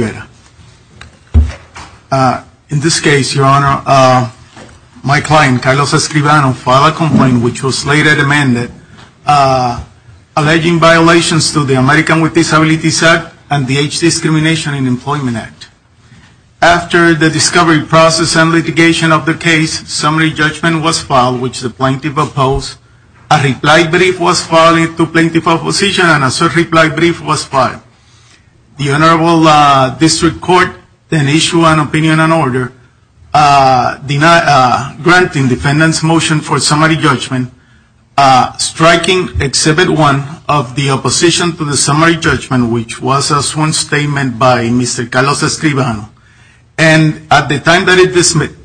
In this case, Your Honor, my client, Carlos Escribano, filed a complaint, which was later amended, alleging violations to the American with Disabilities Act and the Age Discrimination in Employment Act. After the discovery, process, and litigation of the case, a summary judgment was filed, which the plaintiff opposed, a reply brief was filed to the plaintiff's opposition, and a third reply brief was filed. The Honorable District Court then issued an opinion and order, granting the defendant's motion for a summary judgment, striking Exhibit 1 of the opposition to the summary judgment, which was a sworn statement by Mr. Carlos Escribano. And at the time that it dismissed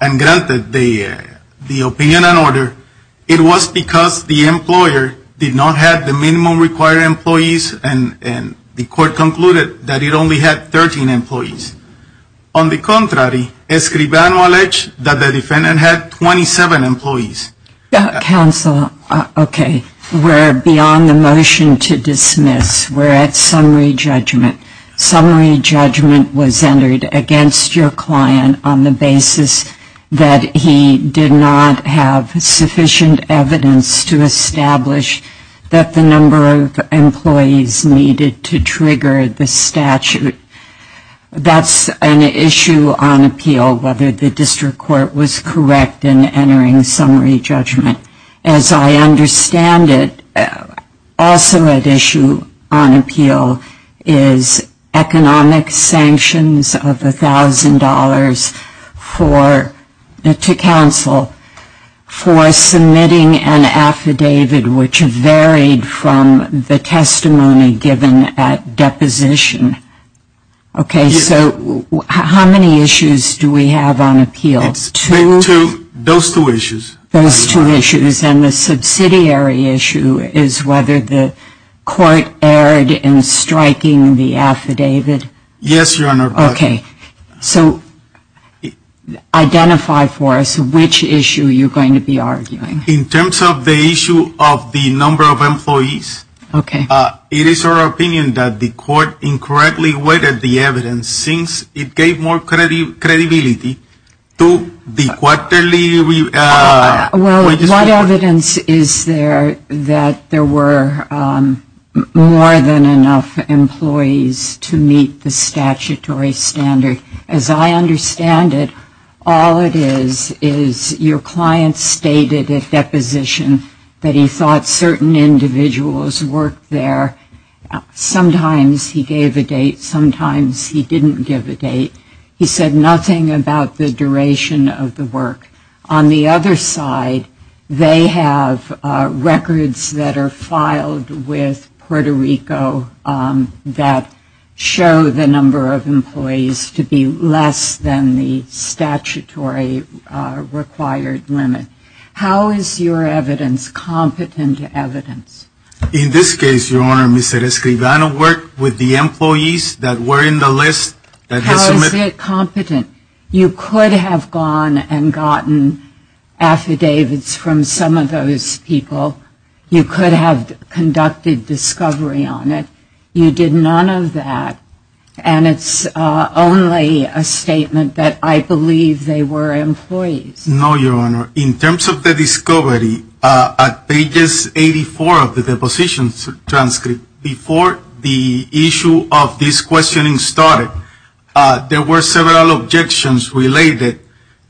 and granted the opinion and order, it was because the employer did not have the minimum required employees, and the court concluded that it only had 13 employees. On the contrary, Escribano alleged that the defendant had 27 employees. Counsel, okay, we're beyond the motion to dismiss. We're at summary judgment. Summary judgment was entered against your client on the basis that he did not have sufficient evidence to establish that the number of employees needed to trigger the statute. That's an issue on appeal, whether the district court was correct in entering summary judgment. As I understand it, also at issue on appeal is economic sanctions of $1,000 to counsel for submitting an affidavit which varied from the testimony given at deposition. Okay, so how many issues do we have on appeal? Those two issues. Those two issues. And the subsidiary issue is whether the court erred in striking the affidavit. Yes, Your Honor. Okay. So identify for us which issue you're going to be arguing. In terms of the issue of the number of employees. Okay. It is our opinion that the court incorrectly weighted the evidence since it gave more credibility to the quarterly. Well, what evidence is there that there were more than enough employees to meet the statutory standard? As I understand it, all it is is your client stated at deposition that he thought certain individuals worked there. Sometimes he gave a date. Sometimes he didn't give a date. He said nothing about the duration of the work. On the other side, they have records that are filed with Puerto Rico that show the number of employees to be less than the statutory required limit. How is your evidence competent to evidence? In this case, Your Honor, Mr. Escribano worked with the employees that were in the list. How is it competent? You could have gone and gotten affidavits from some of those people. You could have conducted discovery on it. You did none of that. And it's only a statement that I believe they were employees. No, Your Honor. In terms of the discovery, pages 84 of the deposition transcript, before the issue of this questioning started, there were several objections related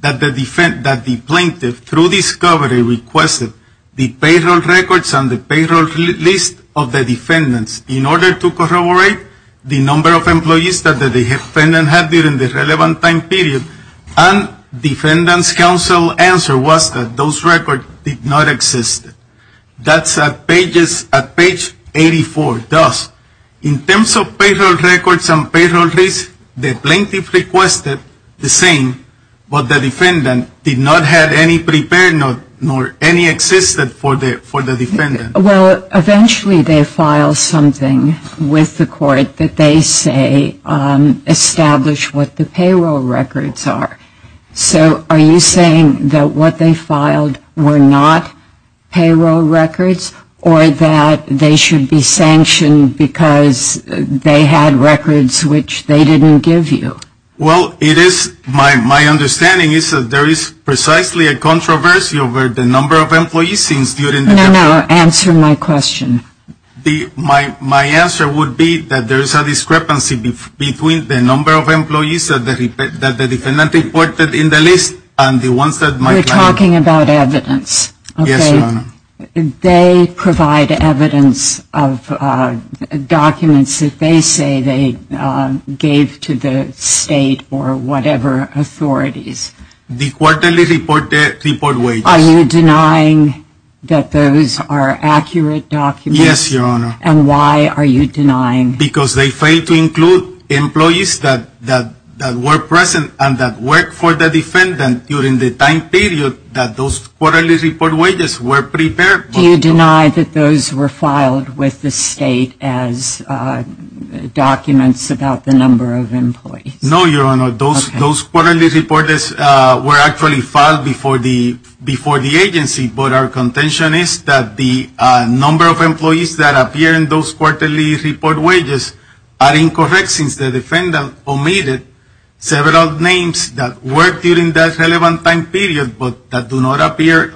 that the plaintiff through discovery requested the payroll records and the payroll list of the defendants in order to corroborate the number of employees that the defendant had during the relevant time period. And the defendant's counsel answer was that those records did not exist. That's at page 84. In terms of payroll records and payroll list, the plaintiff requested the same, but the defendant did not have any prepared note nor any existed for the defendant. Well, eventually they file something with the court that they say established what the payroll records are. So are you saying that what they filed were not payroll records or that they should be sanctioned because they had records which they didn't give you? Well, it is my understanding is that there is precisely a controversy over the number of employees since during the No, no. Answer my question. My answer would be that there is a discrepancy between the number of employees that the defendant reported in the list and the ones that my client You're talking about evidence. Yes, Your Honor. They provide evidence of documents that they say they gave to the state or whatever authorities. The quarterly report wages. Are you denying that those are accurate documents? Yes, Your Honor. And why are you denying? Because they fail to include employees that were present and that worked for the defendant during the time period that those quarterly report wages were prepared. Do you deny that those were filed with the state as documents about the number of employees? No, Your Honor. Those quarterly reports were actually filed before the agency. But our contention is that the number of employees that appear in those quarterly report wages are incorrect since the defendant omitted several names that worked during that relevant time period but that do not appear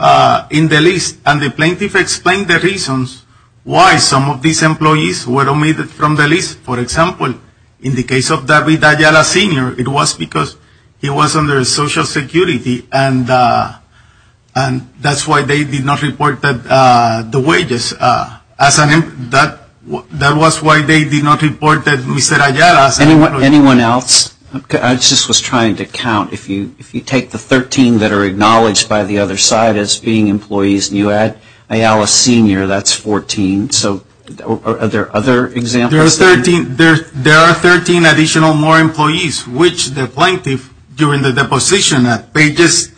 in the list. And the plaintiff explained the reasons why some of these employees were omitted from the list. For example, in the case of David Ayala Sr., it was because he was under Social Security and that's why they did not report the wages. That was why they did not report Mr. Ayala. Anyone else? I just was trying to count. If you take the 13 that are acknowledged by the other side as being employees and you add Ayala Sr., that's 14. Are there other examples? There are 13 additional more employees which the plaintiff, during the deposition at pages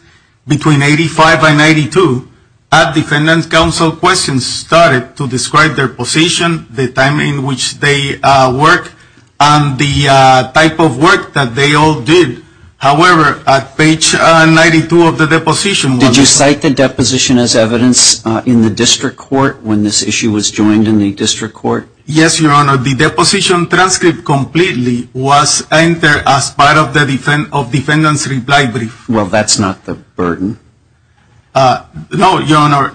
between 85 and 92, at defendant's counsel questions started to describe their position, the time in which they worked, and the type of work that they all did. However, at page 92 of the deposition. Did you cite the deposition as evidence in the district court when this issue was joined in the district court? Yes, Your Honor. The deposition transcript completely was entered as part of the defendant's reply brief. Well, that's not the burden. No, Your Honor.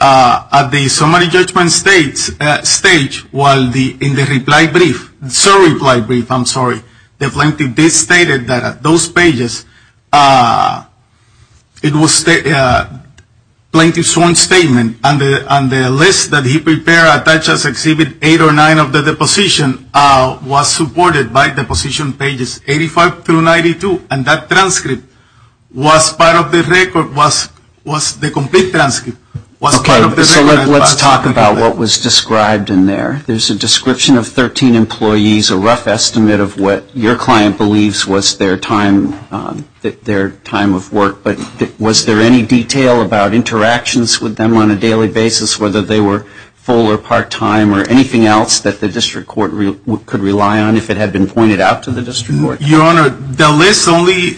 At the summary judgment stage, while in the reply brief, I'm sorry, the plaintiff did state that at those pages, it was plaintiff's own statement and the list that he prepared, such as exhibit eight or nine of the deposition, was supported by the position pages 85 through 92. And that transcript was part of the record, was the complete transcript. Okay. So let's talk about what was described in there. There's a description of 13 employees, a rough estimate of what your client believes was their time of work. But was there any detail about interactions with them on a daily basis, whether they were full or part time, or anything else that the district court could rely on if it had been pointed out to the district court? Your Honor, the list only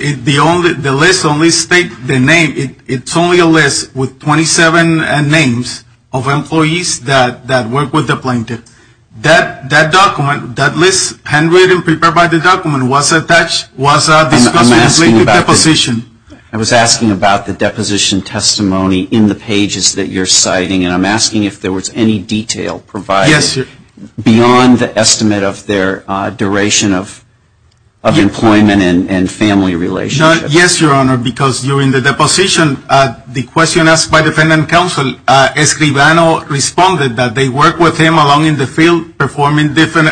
states the name. It's only a list with 27 names of employees that work with the plaintiff. That document, that list handwritten, prepared by the document, was attached, was discussed in the deposition. I was asking about the deposition testimony in the pages that you're citing, and I'm asking if there was any detail provided beyond the estimate of their duration of employment and family relationship. Yes, Your Honor, because during the deposition, the question asked by defendant counsel, Escribano, responded that they worked with him along in the field, performing different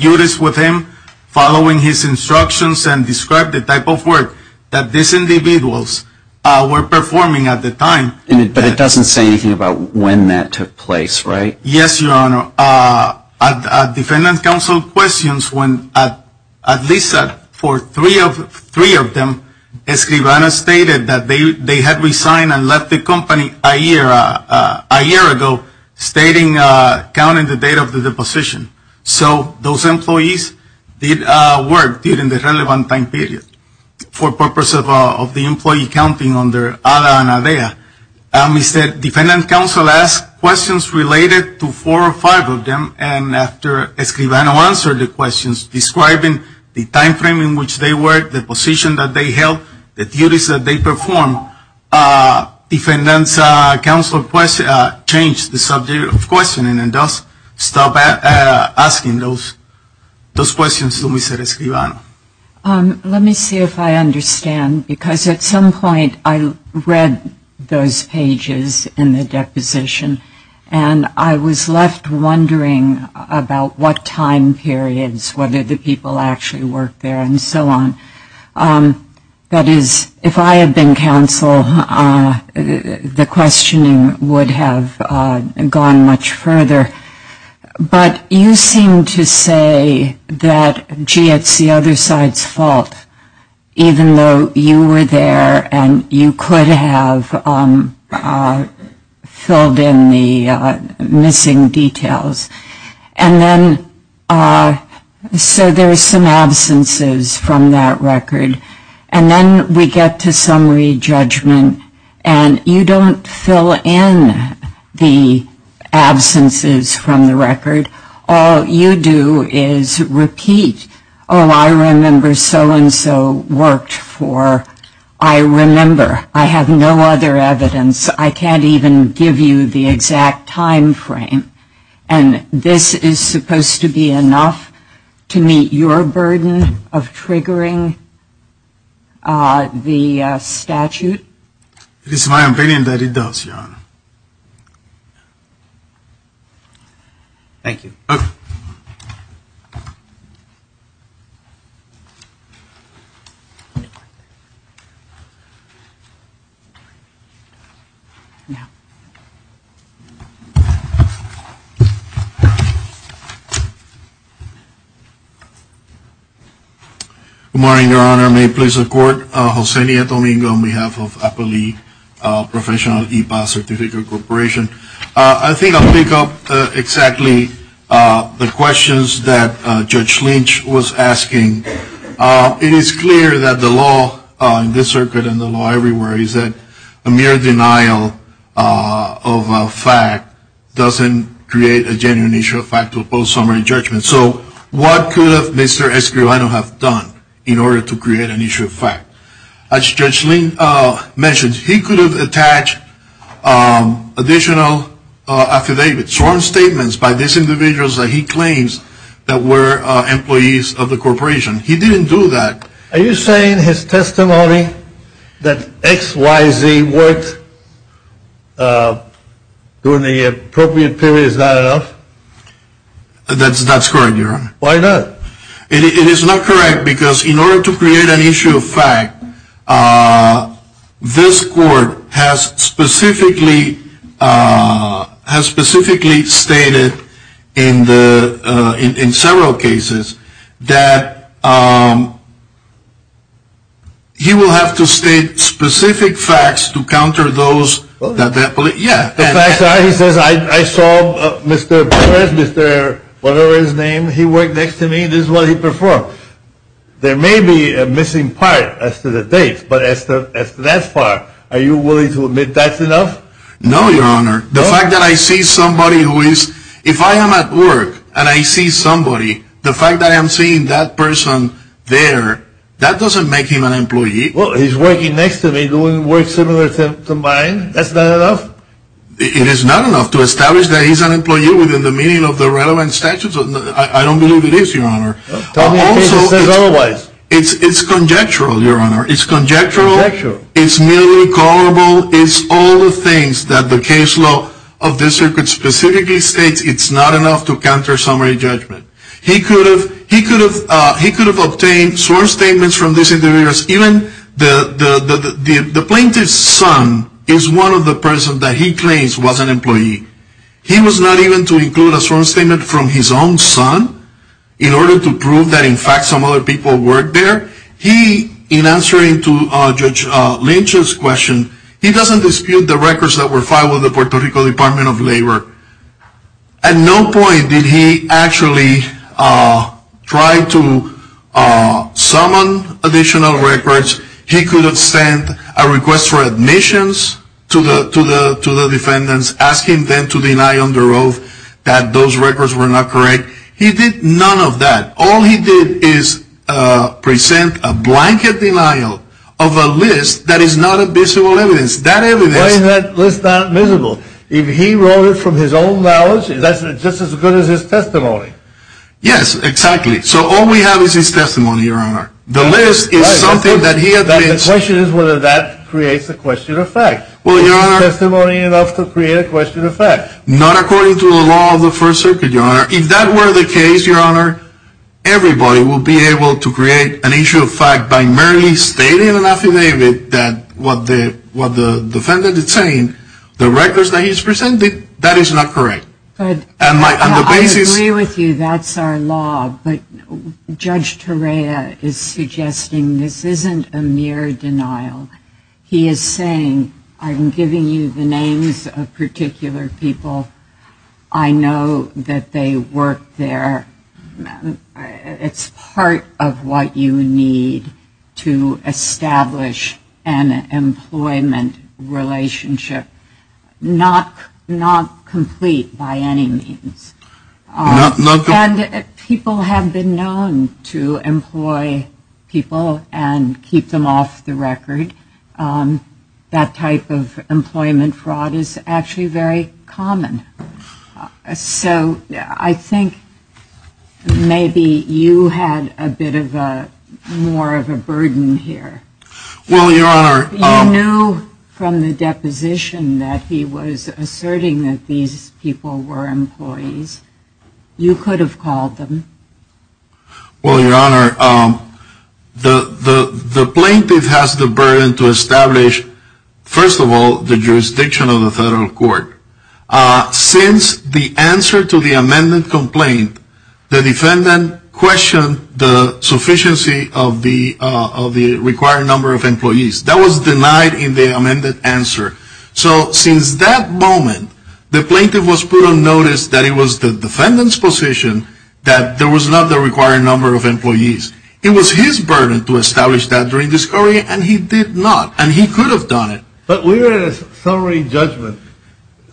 duties with him, following his instructions and described the type of work that these individuals were performing at the time. But it doesn't say anything about when that took place, right? Yes, Your Honor. Defendant counsel questions when, at least for three of them, Escribano stated that they had resigned and left the company a year ago, stating, counting the date of the deposition. So those employees did work during the relevant time period for purpose of the employee counting on their ADA and ADA. We said defendant counsel asked questions related to four or five of them, and after Escribano answered the questions describing the time frame in which they worked, the position that they held, the duties that they performed, defendant counsel changed the subject of questioning and thus stopped asking those questions to Mr. Escribano. Let me see if I understand, because at some point I read those pages in the deposition and I was left wondering about what time periods, whether the people actually worked there and so on. That is, if I had been counsel, the questioning would have gone much further. But you seem to say that, gee, it's the other side's fault, even though you were there and you could have filled in the missing details. So there's some absences from that record, and then we get to summary judgment, and you don't fill in the absences from the record. All you do is repeat, oh, I remember so-and-so worked for, I remember. I have no other evidence. I can't even give you the exact time frame. And this is supposed to be enough to meet your burden of triggering the statute? It is my opinion that it does, Your Honor. Thank you. Okay. Good morning, Your Honor. May it please the Court. Hosenia Domingo on behalf of Apo Lee Professional E-Pass Certificate Corporation. I think I'll pick up exactly the questions that Judge Lynch was asking. It is clear that the law in this circuit and the law everywhere is that a mere denial of a fact doesn't create a genuine issue of fact to oppose summary judgment. So what could Mr. Escribano have done in order to create an issue of fact? As Judge Lynch mentioned, he could have attached additional affidavits, sworn statements by these individuals that he claims that were employees of the corporation. He didn't do that. Are you saying his testimony that XYZ worked during the appropriate period is not enough? That's correct, Your Honor. Why not? It is not correct because in order to create an issue of fact, this Court has specifically stated in several cases that he will have to state specific facts to counter those. The facts are, he says, I saw Mr. Perez, Mr. whatever his name, he worked next to me, this is what he performed. There may be a missing part as to the date, but as to that part, are you willing to admit that's enough? No, Your Honor. The fact that I see somebody who is, if I am at work and I see somebody, the fact that I am seeing that person there, that doesn't make him an employee. Well, he's working next to me doing work similar to mine. That's not enough? It is not enough to establish that he's an employee within the meaning of the relevant statutes. I don't believe it is, Your Honor. Tell me the case that says otherwise. It's conjectural, Your Honor. It's conjectural. It's merely callable. It's all the things that the case law of this circuit specifically states it's not enough to counter summary judgment. He could have obtained sworn statements from this individual. Even the plaintiff's son is one of the persons that he claims was an employee. He was not even to include a sworn statement from his own son in order to prove that in fact some other people worked there. He, in answering to Judge Lynch's question, he doesn't dispute the records that were filed with the Puerto Rico Department of Labor. At no point did he actually try to summon additional records. He could have sent a request for admissions to the defendants, asking them to deny on the road that those records were not correct. He did none of that. All he did is present a blanket denial of a list that is not a visible evidence. Why is that list not visible? If he wrote it from his own knowledge, that's just as good as his testimony. Yes, exactly. So all we have is his testimony, Your Honor. The list is something that he admits. The question is whether that creates a question of fact. Was his testimony enough to create a question of fact? Not according to the law of the First Circuit, Your Honor. If that were the case, Your Honor, everybody would be able to create an issue of fact by merely stating an affidavit that what the defendant is saying, the records that he's presenting, that is not correct. I agree with you. That's our law. But Judge Torreya is suggesting this isn't a mere denial. He is saying, I'm giving you the names of particular people. I know that they work there. It's part of what you need to establish an employment relationship, not complete by any means. And people have been known to employ people and keep them off the record. That type of employment fraud is actually very common. So I think maybe you had a bit more of a burden here. Well, Your Honor. You knew from the deposition that he was asserting that these people were employees. You could have called them. Well, Your Honor, the plaintiff has the burden to establish, first of all, the jurisdiction of the federal court. Since the answer to the amended complaint, the defendant questioned the sufficiency of the required number of employees. That was denied in the amended answer. So since that moment, the plaintiff was put on notice that it was the defendant's position that there was not the required number of employees. It was his burden to establish that during discovery, and he did not, and he could have done it. But we were in a summary judgment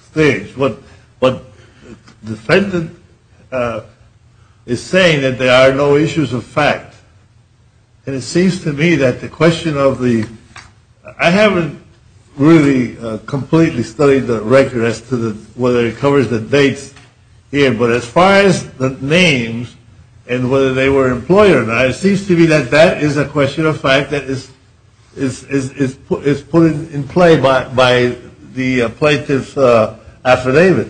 stage. What the defendant is saying is that there are no issues of fact. And it seems to me that the question of the – I haven't really completely studied the record as to whether it covers the dates here. But as far as the names and whether they were employers, it seems to me that that is a question of fact that is put in play by the plaintiff's affidavit.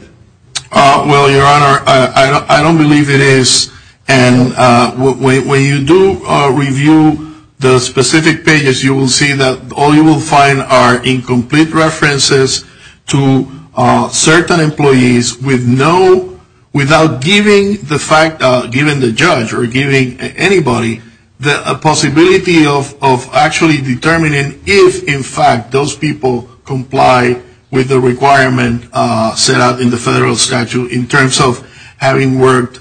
Well, Your Honor, I don't believe it is. And when you do review the specific pages, you will see that all you will find are incomplete references to certain employees with no – without giving the fact, giving the judge or giving anybody the possibility of actually determining if, in fact, those people comply with the requirement set out in the federal statute in terms of having worked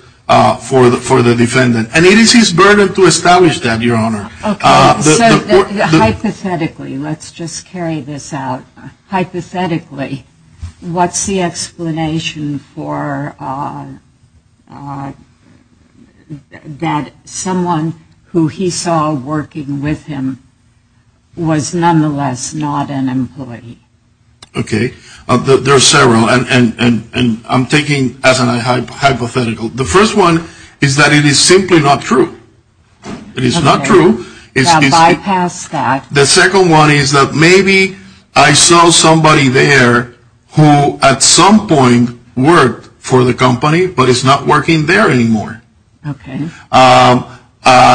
for the defendant. And it is his burden to establish that, Your Honor. Hypothetically, let's just carry this out. Hypothetically, what's the explanation for that someone who he saw working with him was nonetheless not an employee? Okay. There are several. And I'm taking as a hypothetical. The first one is that it is simply not true. It is not true. Now bypass that. The second one is that maybe I saw somebody there who at some point worked for the company but is not working there anymore. Okay.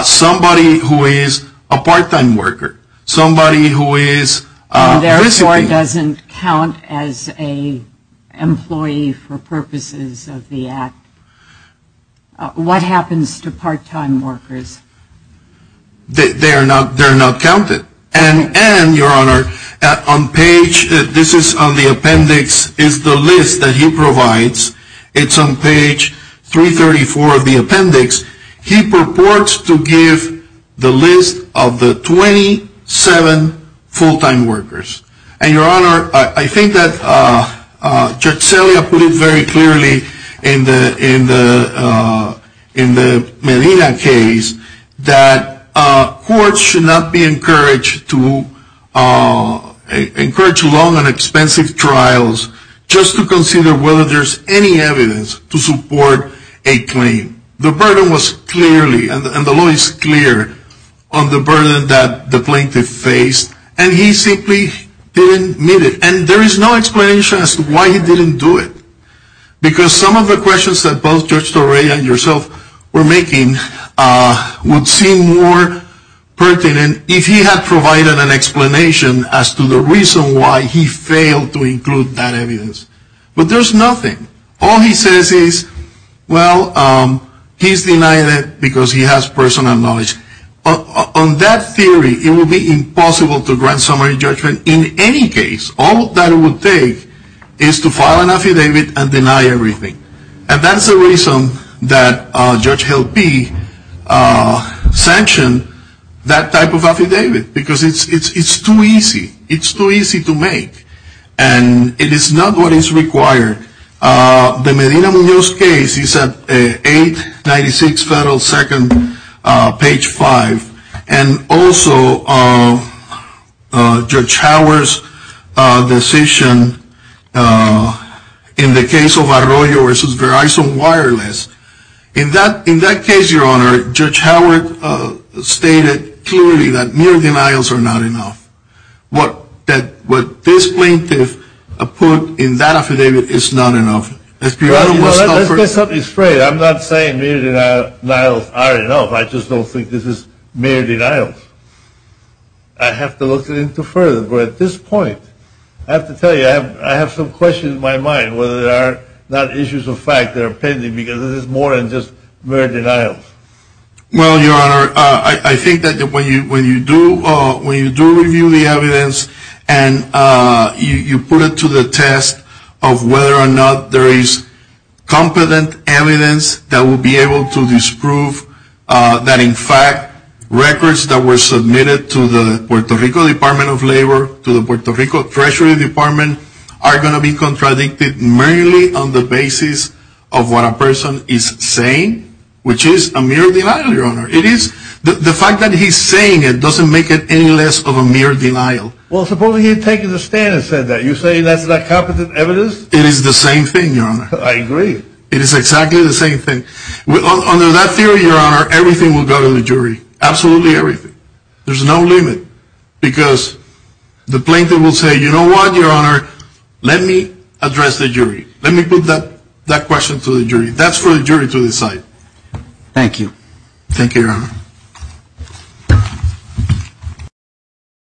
Somebody who is a part-time worker. Somebody who is a recipient. And therefore doesn't count as an employee for purposes of the act. What happens to part-time workers? They are not counted. And, Your Honor, on page – this is on the appendix – is the list that he provides. It's on page 334 of the appendix. He purports to give the list of the 27 full-time workers. And, Your Honor, I think that Judge Celia put it very clearly in the Medina case that courts should not be encouraged to – encourage long and expensive trials just to consider whether there's any evidence to support a claim. The burden was clearly – and the law is clear – on the burden that the plaintiff faced. And he simply didn't meet it. And there is no explanation as to why he didn't do it. Because some of the questions that both Judge Torrey and yourself were making would seem more pertinent if he had provided an explanation as to the reason why he failed to include that evidence. But there's nothing. All he says is, well, he's denied it because he has personal knowledge. On that theory, it would be impossible to grant summary judgment in any case. All that it would take is to file an affidavit and deny everything. And that's the reason that Judge Hill P. sanctioned that type of affidavit. Because it's too easy. It's too easy to make. And it is not what is required. The Medina-Muñoz case is at 896 Federal 2nd, page 5. And also, Judge Howard's decision in the case of Arroyo v. Verizon Wireless. In that case, Your Honor, Judge Howard stated clearly that mere denials are not enough. What this plaintiff put in that affidavit is not enough. Let's be honest. Let's get something straight. I'm not saying mere denials are enough. I just don't think this is mere denials. I have to look into it further. But at this point, I have to tell you, I have some questions in my mind, whether there are not issues of fact that are pending because this is more than just mere denials. Well, Your Honor, I think that when you do review the evidence and you put it to the test of whether or not there is competent evidence that will be able to disprove that in fact records that were submitted to the Puerto Rico Department of Labor, to the Puerto Rico Treasury Department, are going to be contradicted merely on the basis of what a person is saying, which is a mere denial, Your Honor. The fact that he's saying it doesn't make it any less of a mere denial. Well, supposing he had taken a stand and said that. You're saying that's not competent evidence? It is the same thing, Your Honor. I agree. It is exactly the same thing. Under that theory, Your Honor, everything will go to the jury. Absolutely everything. There's no limit because the plaintiff will say, Let me put that question to the jury. That's for the jury to decide. Thank you.